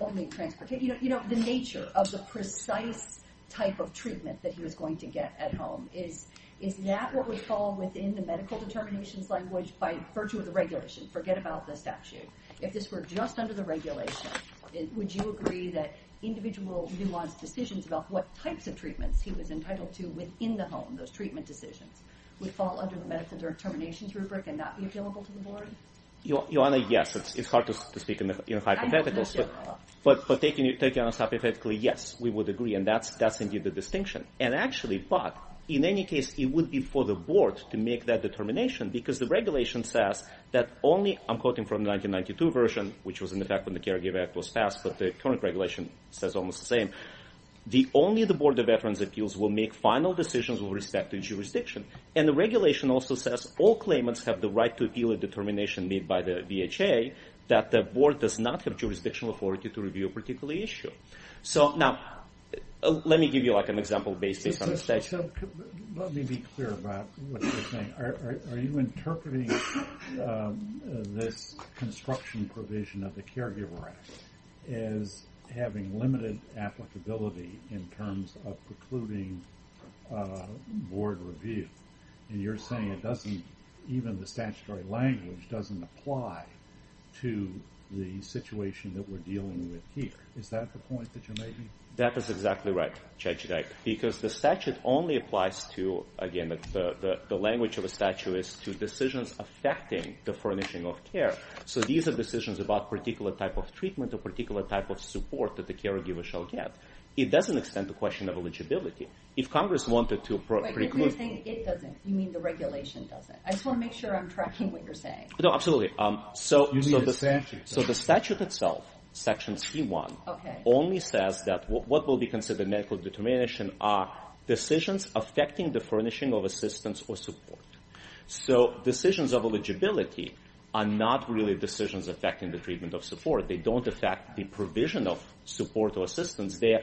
only transportation, you know, the nature of the precise type of treatment that he was going to get at home? Is that what would fall within the medical determinations language by virtue of the regulation? Forget about the statute. If this were just under the regulation, would you agree that individual nuance decisions about what types of treatments he was entitled to within the home, those treatment decisions, would fall under the medical determinations rubric and not be appealable to the board? Your Honor, yes. It's hard to speak in hypotheticals. But taking it on hypothetically, yes, we would agree. And that's indeed the distinction. And actually, but in any case, it would be for the board to make that determination because the regulation says that only, I'm quoting from 1992 version, which was in effect when the Caregiver Act was passed, but the current regulation says almost the same. The only the board of veterans appeals will make final decisions with respect to jurisdiction. And the regulation also says all claimants have the right to appeal a determination made by the VHA that the board does not have jurisdictional authority to review a particular issue. So now, let me give you like an example based on the state. Let me be clear about what you're saying. Are you interpreting this construction provision of the Caregiver Act as having limited applicability in terms of precluding board review? And you're saying it doesn't, even the statutory language doesn't apply to the situation that we're dealing with here. Is that the point that you're making? That is exactly right, Judge Dyke, because the statute only applies to, again, the language of a statute is to decisions affecting the furnishing of care. So these are decisions about particular type of treatment or particular type of support that the caregiver shall get. It doesn't extend the question of eligibility. If Congress wanted to preclude- Wait, if you're saying it doesn't, you mean the regulation doesn't. I just want to make sure I'm tracking what you're saying. No, absolutely. So- You need a statute. So the statute itself, Section C-1, only says that what will be considered medical determination are decisions affecting the furnishing of assistance or support. So decisions of eligibility are not really decisions affecting the treatment of support. They don't affect the provision of support or assistance. They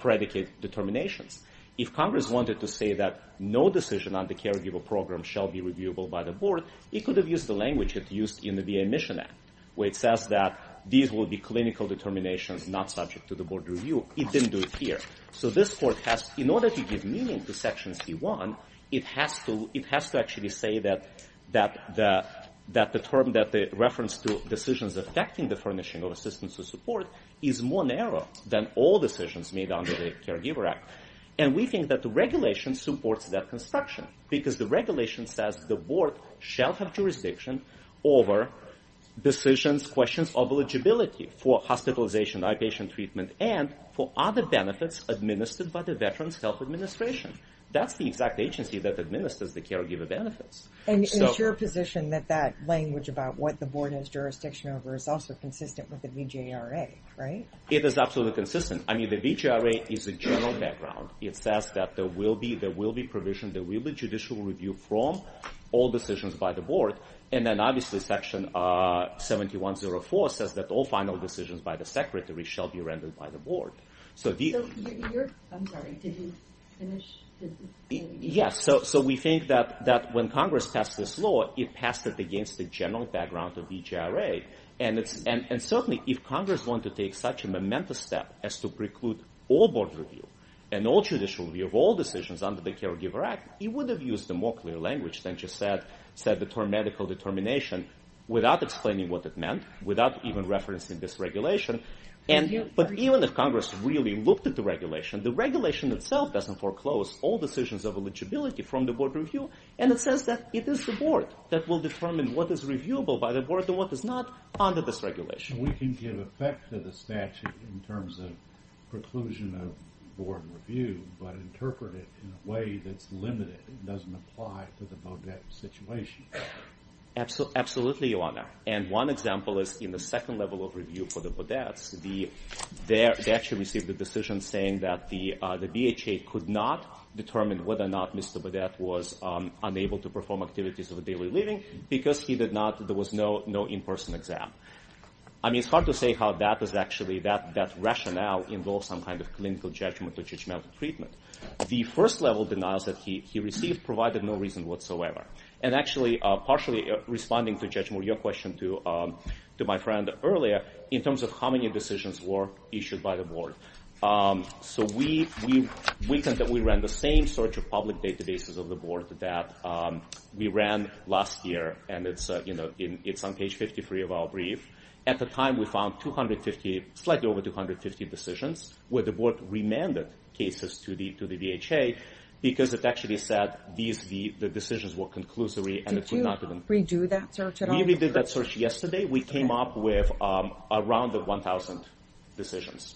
predicate determinations. If Congress wanted to say that no decision on the caregiver program shall be reviewable by the board, it could have used the language it used in the VA Mission Act, where it says that these will be clinical determinations not subject to the board review. It didn't do it here. So this court has, in order to give meaning to Section C-1, it has to actually say that the term, that the reference to decisions affecting the furnishing of assistance or support is more narrow than all decisions made under the Caregiver Act. And we think that the regulation supports that construction because the regulation says the board shall have jurisdiction over decisions, questions of eligibility for hospitalization, eye patient treatment, and for other benefits administered by the Veterans Health Administration. That's the exact agency that administers the caregiver benefits. And it's your position that that language about what the board has jurisdiction over is also consistent with the VJRA, right? It is absolutely consistent. I mean, the VJRA is a general background. It says that there will be provision, there will be judicial review from all decisions by the board. And then obviously Section 71-04 says that all final decisions by the secretary shall be rendered by the board. So the- I'm sorry, did you finish? Yes, so we think that when Congress passed this law, it passed it against the general background of VJRA. And certainly if Congress want to take such a momentous step as to preclude all board review and all judicial review of all decisions under the Caregiver Act, it would have used a more clear language than just said the term medical determination without explaining what it meant, without even referencing this regulation. But even if Congress really looked at the regulation, the regulation itself doesn't foreclose all decisions of eligibility from the board review. And it says that it is the board that will determine what is reviewable by the board and what is not under this regulation. We can give effect to the statute in terms of preclusion of board review, but interpret it in a way that's limited. It doesn't apply to the bodette situation. Absolutely, Your Honor. And one example is in the second level of review for the bodettes, they actually received a decision saying that the BHA could not determine whether or not Mr. Bodette was unable to perform activities of a daily living because he did not, there was no in-person exam. I mean, it's hard to say how that is actually, that rationale involves some kind of clinical judgment treatment. The first level denials that he received provided no reason whatsoever. And actually, partially responding to Judge Moore, your question to my friend earlier, in terms of how many decisions were issued by the board. So we think that we ran the same search of public databases of the board that we ran last year, and it's on page 53 of our brief. At the time, we found 250, slightly over 250 decisions where the board remanded cases to the BHA because it actually said the decisions were conclusory and it could not even. Did you redo that search at all? We redid that search yesterday. We came up with around 1,000 decisions.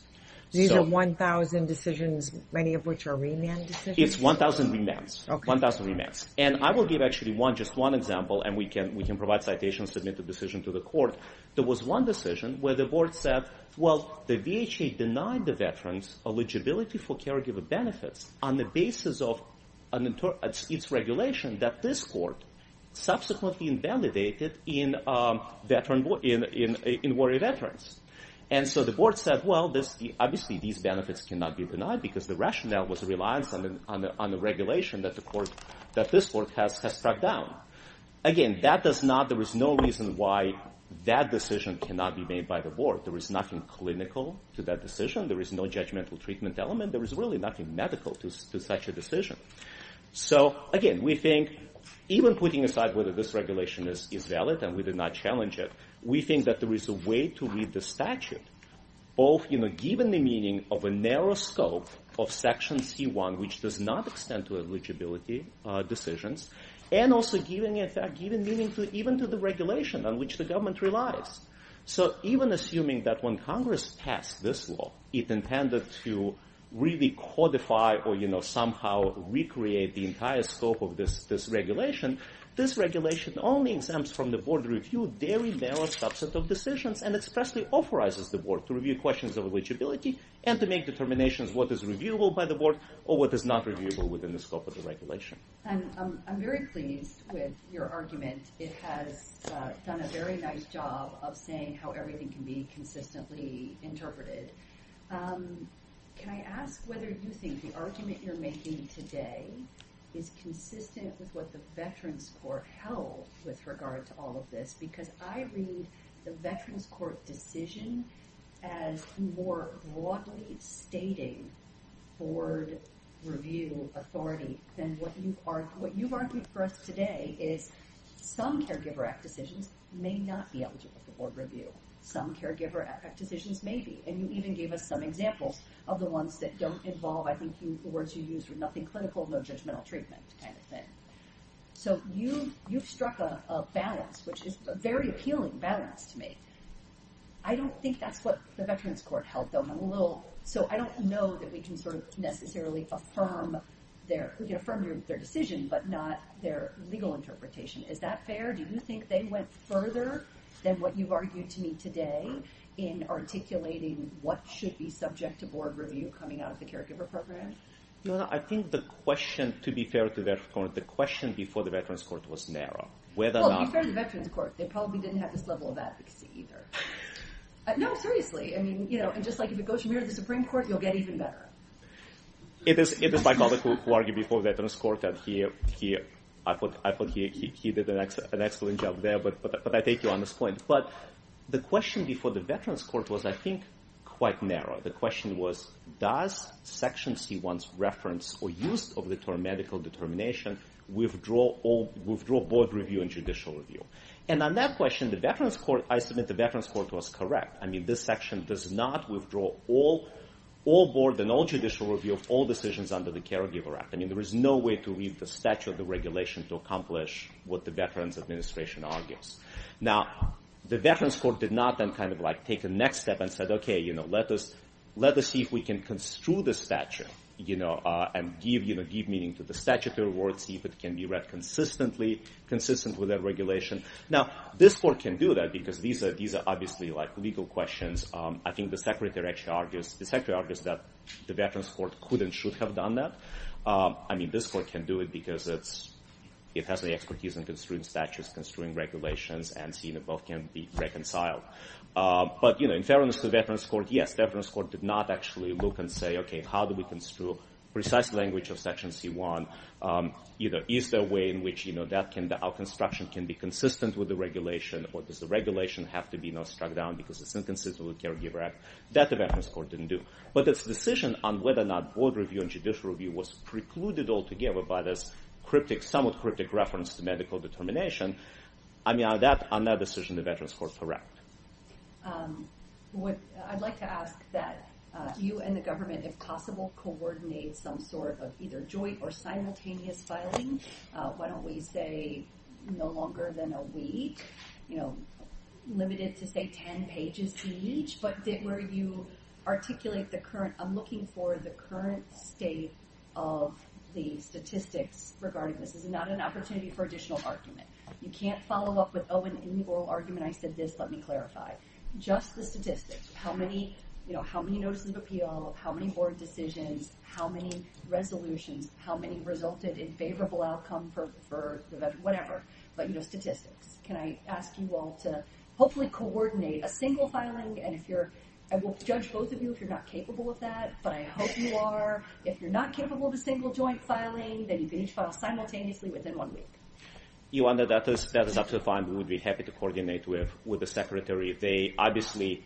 These are 1,000 decisions, many of which are remanded? It's 1,000 remands, 1,000 remands. And I will give actually just one example, and we can provide citations, submit the decision to the court. There was one decision where the board said, well, the BHA denied the veterans eligibility for caregiver benefits on the basis of its regulation that this court subsequently invalidated in Warrior Veterans. And so the board said, well, obviously, these benefits cannot be denied because the rationale was a reliance on the regulation that this court has struck down. Again, there is no reason why that decision cannot be made by the board. There is nothing clinical to that decision. There is no judgmental treatment element. There is really nothing medical to such a decision. So again, we think even putting aside whether this regulation is valid and we did not challenge it, we think that there is a way to read the statute, both given the meaning of a narrow scope of Section C1, which does not extend to eligibility decisions, and also given meaning even to the regulation on which the government relies. So even assuming that when Congress passed this law, it intended to really codify or somehow recreate the entire scope of this regulation, this regulation only exempts from the board review very narrow subset of decisions and expressly authorizes the board to review questions of eligibility and to make determinations what is reviewable by the board or what is not reviewable within the scope of the regulation. I'm very pleased with your argument. It has done a very nice job of saying how everything can be consistently interpreted. Can I ask whether you think the argument you're making today is consistent with what the Veterans Court held with regard to all of this? Because I read the Veterans Court decision as more broadly stating board review authority than what you argued for us today is some Caregiver Act decisions may not be eligible for board review. Some Caregiver Act decisions may be, and you even gave us some examples of the ones that don't involve, I think the words you used were nothing clinical, no judgmental treatment kind of thing. So you've struck a balance, which is a very appealing balance to me. I don't think that's what the Veterans Court held, though I'm a little, so I don't know that we can sort of necessarily affirm their, we can affirm their decision, but not their legal interpretation. Is that fair? Do you think they went further than what you've argued to me today in articulating what should be subject to board review coming out of the caregiver program? No, I think the question, to be fair to Veterans Court, the question before the Veterans Court was narrow. Whether or not- Well, to be fair to the Veterans Court, they probably didn't have this level of advocacy either. No, seriously, I mean, and just like if it goes from here to the Supreme Court, you'll get even better. It is my colleague who argued before Veterans Court that he, I thought he did an excellent job there, but I take you on this point. But the question before the Veterans Court was, I think, quite narrow. The question was, does Section C1's reference or use of the term medical determination withdraw board review and judicial review? And on that question, the Veterans Court, I submit the Veterans Court was correct. I mean, this section does not withdraw all board and all judicial review of all decisions under the Caregiver Act. I mean, there is no way to read the statute, the regulation to accomplish what the Veterans Administration argues. Now, the Veterans Court did not then kind of like take the next step and said, okay, let us see if we can construe the statute and give meaning to the statutory word, see if it can be read consistently, consistent with that regulation. Now, this court can do that because these are obviously like legal questions. I think the Secretary actually argues, the Secretary argues that the Veterans Court could and should have done that. I mean, this court can do it because it's, it has the expertise in construing statutes, construing regulations, and seeing if both can be reconciled. But, you know, in fairness to the Veterans Court, yes, the Veterans Court did not actually look and say, okay, how do we construe precise language of Section C1? Either is there a way in which, you know, that can, our construction can be consistent with the regulation, or does the regulation have to be, you know, struck down because it's inconsistent with the Caregiver Act? That the Veterans Court didn't do. But its decision on whether or not board review and judicial review was precluded altogether by this cryptic, somewhat cryptic reference to medical determination. I mean, on that decision, the Veterans Court correct. I'd like to ask that you and the government, if possible, coordinate some sort of either joint or simultaneous filing. Why don't we say no longer than a week, you know, limited to say 10 pages each, but where you articulate the current, I'm looking for the current state of the statistics regarding this. This is not an opportunity for additional argument. You can't follow up with, oh, an inequal argument, I said this, let me clarify. Just the statistics, how many, you know, how many notices of appeal, how many board decisions, how many resolutions, how many resulted in favorable outcome for the, whatever. But, you know, statistics. Can I ask you all to hopefully coordinate a single filing, and if you're, I will judge both of you if you're not capable of that, but I hope you are. If you're not capable of a single joint filing, then you can each file simultaneously within one week. You wonder, that is absolutely fine. We would be happy to coordinate with the Secretary. They obviously,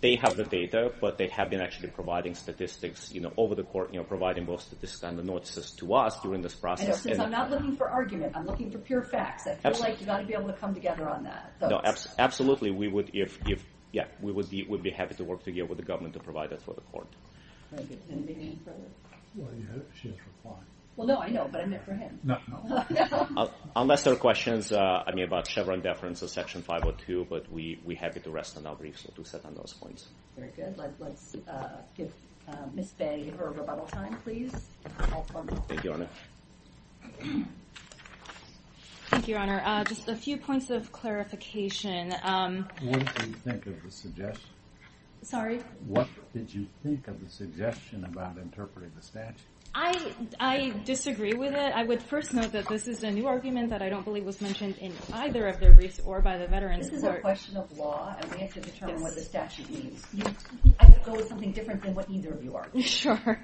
they have the data, but they have been actually providing statistics, you know, over the court, you know, providing both statistics and the notices to us during this process. And since I'm not looking for argument, I'm looking for pure facts. I feel like you gotta be able to come together on that. No, absolutely, we would, if, yeah, we would be happy to work together with the government to provide that for the court. Can I give him the name for it? Well, you had a chance to apply. Well, no, I know, but I meant for him. No, no. Unless there are questions, I mean, about Chevron deference or Section 502, but we're happy to rest on our briefs or to sit on those points. Very good. Let's give Ms. Bay her rebuttal time, please. All for me. Thank you, Your Honor. Thank you, Your Honor. Just a few points of clarification. What did you think of the suggestion? Sorry? What did you think of the suggestion about interpreting the statute? I disagree with it. I would first note that this is a new argument that I don't believe was mentioned in either of their briefs or by the veterans court. This is a question of law, and we have to determine what the statute means. I would go with something different than what either of you argued. Sure.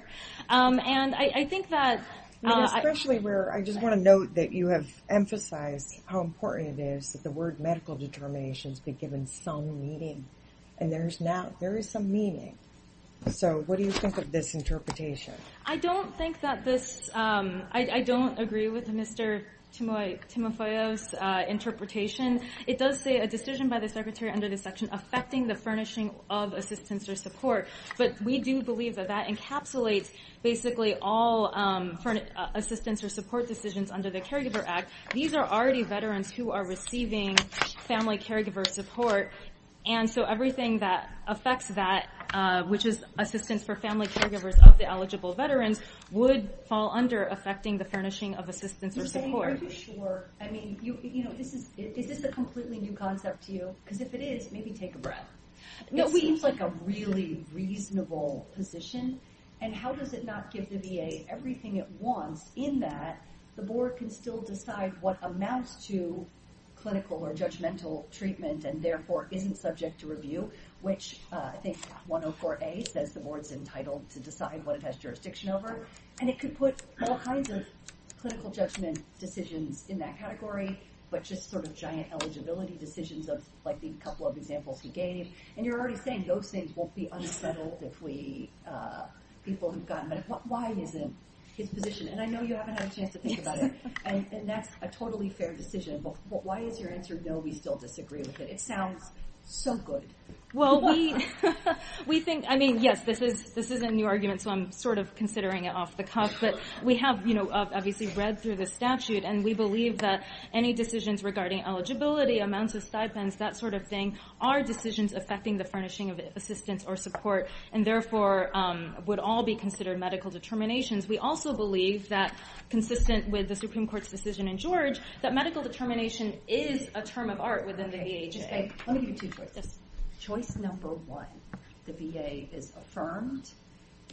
And I think that- Especially where, I just wanna note that you have emphasized how important it is that the word medical determinations be given some meaning. And there is some meaning. So what do you think of this interpretation? I don't think that this, I don't agree with Mr. Timofeyo's interpretation. It does say a decision by the secretary under this section affecting the furnishing of assistance or support. But we do believe that that encapsulates basically all assistance or support decisions under the Caregiver Act. These are already veterans who are receiving family caregiver support. And so everything that affects that, which is assistance for family caregivers of the eligible veterans, would fall under affecting the furnishing of assistance or support. Ms. May, are you sure? I mean, is this a completely new concept to you? Because if it is, maybe take a breath. It seems like a really reasonable position. And how does it not give the VA everything it wants in that the board can still decide what amounts to clinical or judgmental treatment and therefore isn't subject to review, which I think 104A says the board's entitled to decide what it has jurisdiction over. And it could put all kinds of clinical judgment decisions in that category, but just sort of giant eligibility decisions of like the couple of examples he gave. And you're already saying those things won't be unsettled if we, people who've gotten medical, why isn't his position? And I know you haven't had a chance to think about it. And that's a totally fair decision, but why is your answer, no, we still disagree with it? It sounds so good. Well, we think, I mean, yes, this is a new argument. So I'm sort of considering it off the cuff, but we have obviously read through the statute and we believe that any decisions regarding eligibility, amounts of stipends, that sort of thing, are decisions affecting the furnishing of assistance or support, and therefore would all be considered medical determinations. We also believe that consistent with the Supreme Court's decision in George, that medical determination is a term of art within the VHA. Let me give you two choices. Choice number one, the VA is affirmed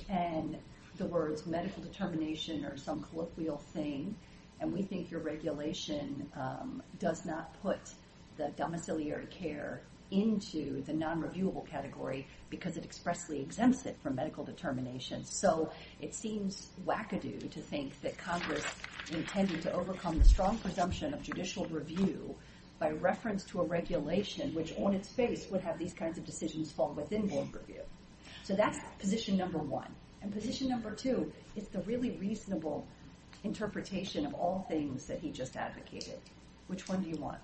and the words medical determination are some colloquial thing. And we think your regulation does not put the domiciliary care into the non-reviewable category because it expressly exempts it from medical determination. So it seems wackadoo to think that Congress intended to overcome the strong presumption of judicial review by reference to a regulation, which on its face would have these kinds of decisions fall within board review. So that's position number one. And position number two is the really reasonable interpretation of all things that he just advocated. Which one do you want?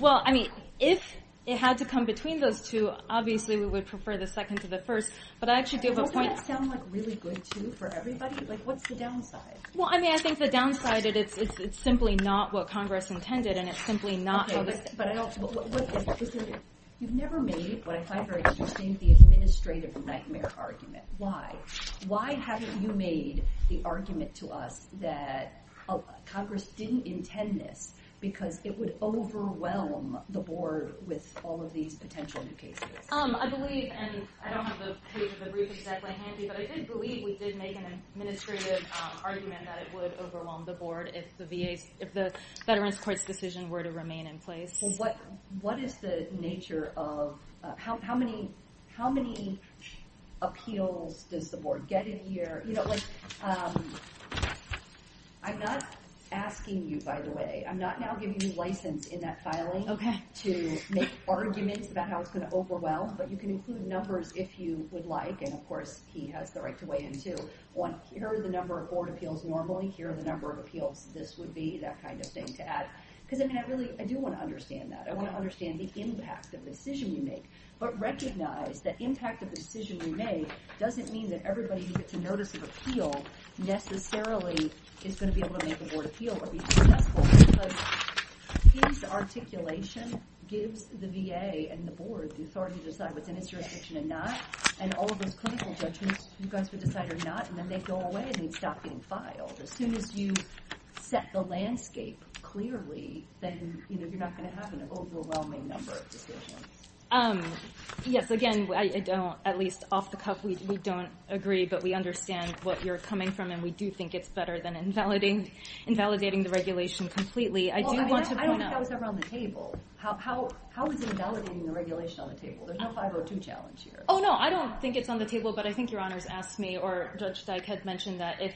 Well, I mean, if it had to come between those two, obviously we would prefer the second to the first, but I actually do have a point. Doesn't that sound like really good too for everybody? Like, what's the downside? Well, I mean, I think the downside is it's simply not what Congress intended and it's simply not how this. But I don't, what is it? You've never made, what I find very interesting, the administrative nightmare argument. Why? Why haven't you made the argument to us that Congress didn't intend this because it would overwhelm the board with all of these potential new cases? I believe, and I don't have the page of the brief exactly handy, but I did believe we did make an administrative argument that it would overwhelm the board if the VA's, if the Veterans Court's decision were to remain in place. Well, what is the nature of, how many appeals does the board get in a year? You know, like, I'm not asking you, by the way. I'm not now giving you license in that filing to make arguments about how it's gonna overwhelm, but you can include numbers if you would like. And of course, he has the right to weigh in, too. One, here are the number of board appeals normally. Here are the number of appeals this would be, that kind of thing, to add. Because I mean, I really, I do wanna understand that. I wanna understand the impact of the decision you make. But recognize that impact of the decision you make doesn't mean that everybody who gets a notice of appeal necessarily is gonna be able to make a board appeal or be successful. Because his articulation gives the VA and the board the authority to decide what's in its jurisdiction or not. And all of those clinical judgments, you guys would decide or not, and then they go away and you'd stop getting filed. As soon as you set the landscape clearly, then you're not gonna have an overwhelming number of decisions. Yes, again, I don't, at least off the cuff, we don't agree, but we understand what you're coming from, and we do think it's better than invalidating the regulation completely. I do want to point out- Well, I don't think that was ever on the table. How is invalidating the regulation on the table? There's no 502 challenge here. Oh, no, I don't think it's on the table, but I think Your Honors asked me, or Judge Dyke had mentioned that if,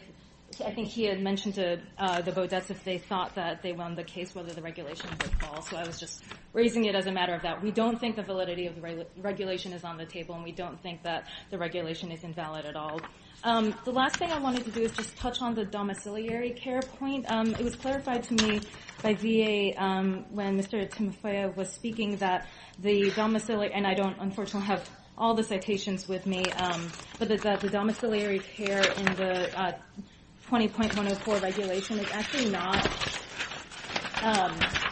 I think he had mentioned to the Beaudets if they thought that they won the case, whether the regulation would fall. So I was just raising it as a matter of that. We don't think the validity of the regulation is on the table, and we don't think that the regulation is invalid at all. The last thing I wanted to do is just touch on the domiciliary care point. It was clarified to me by VA when Mr. Timofeya was speaking that the domiciliary, and I don't unfortunately have all the citations with me, but that the domiciliary care in the 20.104 regulation is actually not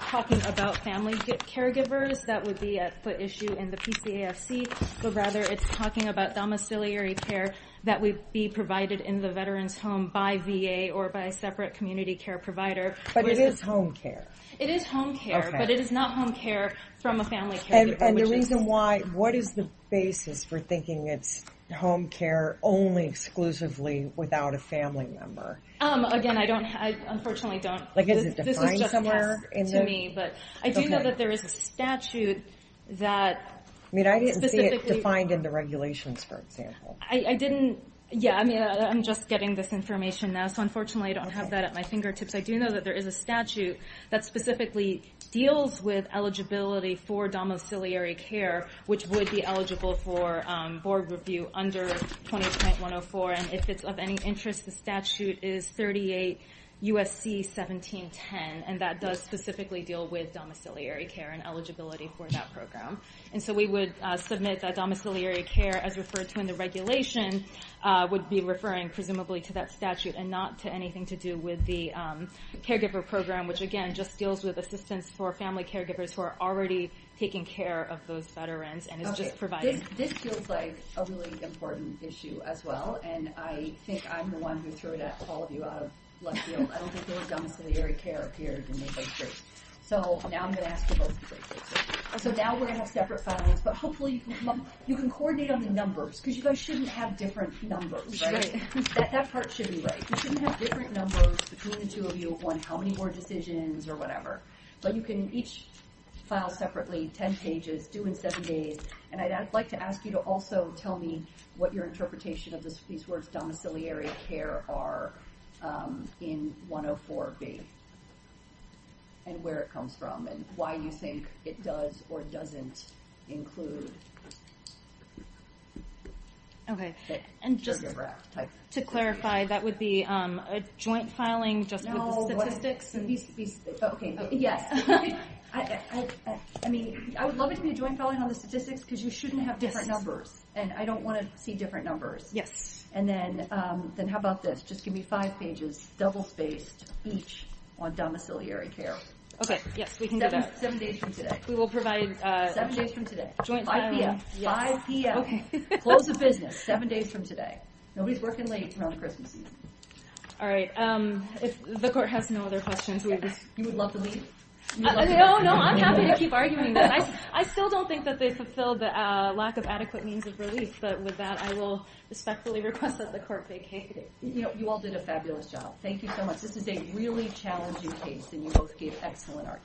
talking about family caregivers that would be at foot issue in the PCAFC, but rather it's talking about domiciliary care that would be provided in the veteran's home by VA or by a separate community care provider. But it is home care. It is home care, but it is not home care from a family caregiver. And the reason why, what is the basis for thinking it's home care only exclusively without a family member? Again, I don't, I unfortunately don't. Like is it defined somewhere in the? Yes, to me, but I do know that there is a statute that. I mean, I didn't see it defined in the regulations, for example. I didn't, yeah, I mean, I'm just getting this information now. So unfortunately, I don't have that at my fingertips. I do know that there is a statute that specifically deals with eligibility for domiciliary care, which would be eligible for board review under 20.104. And if it's of any interest, the statute is 38 USC 1710. And that does specifically deal with domiciliary care and eligibility for that program. And so we would submit that domiciliary care as referred to in the regulation would be referring presumably to that statute and not to anything to do with the caregiver program, which again, just deals with assistance for family caregivers who are already taking care of those veterans and is just providing. This feels like a really important issue as well. And I think I'm the one who threw that call of you out of left field. I don't think there was domiciliary care appeared in the case. So now I'm gonna ask you both to break it. So now we're gonna have separate filings, but hopefully you can come up, you can coordinate on the numbers because you guys shouldn't have different numbers, right? That part should be right. You shouldn't have different numbers between the two of you on how many more decisions or whatever, but you can each file separately 10 pages due in seven days. And I'd like to ask you to also tell me what your interpretation of these words, domiciliary care are in 104B and where it comes from and why you think it does or doesn't include. Okay. And just to clarify, that would be a joint filing just with the statistics? So these, okay. Yes. I mean, I would love it to be a joint filing on the statistics because you shouldn't have different numbers and I don't wanna see different numbers. Yes. And then how about this? Just give me five pages double spaced each on domiciliary care. Okay. Seven days from today. We will provide- Seven days from today. Joint filing. 5 p.m. 5 p.m. Okay. Close of business. Seven days from today. Nobody's working late around Christmas season. All right. The court has no other questions. You would love to leave? No, no, I'm happy to keep arguing this. I still don't think that they fulfilled the lack of adequate means of relief, but with that, I will respectfully request that the court vacate. You all did a fabulous job. Thank you so much. This is a really challenging case and you both gave excellent arguments.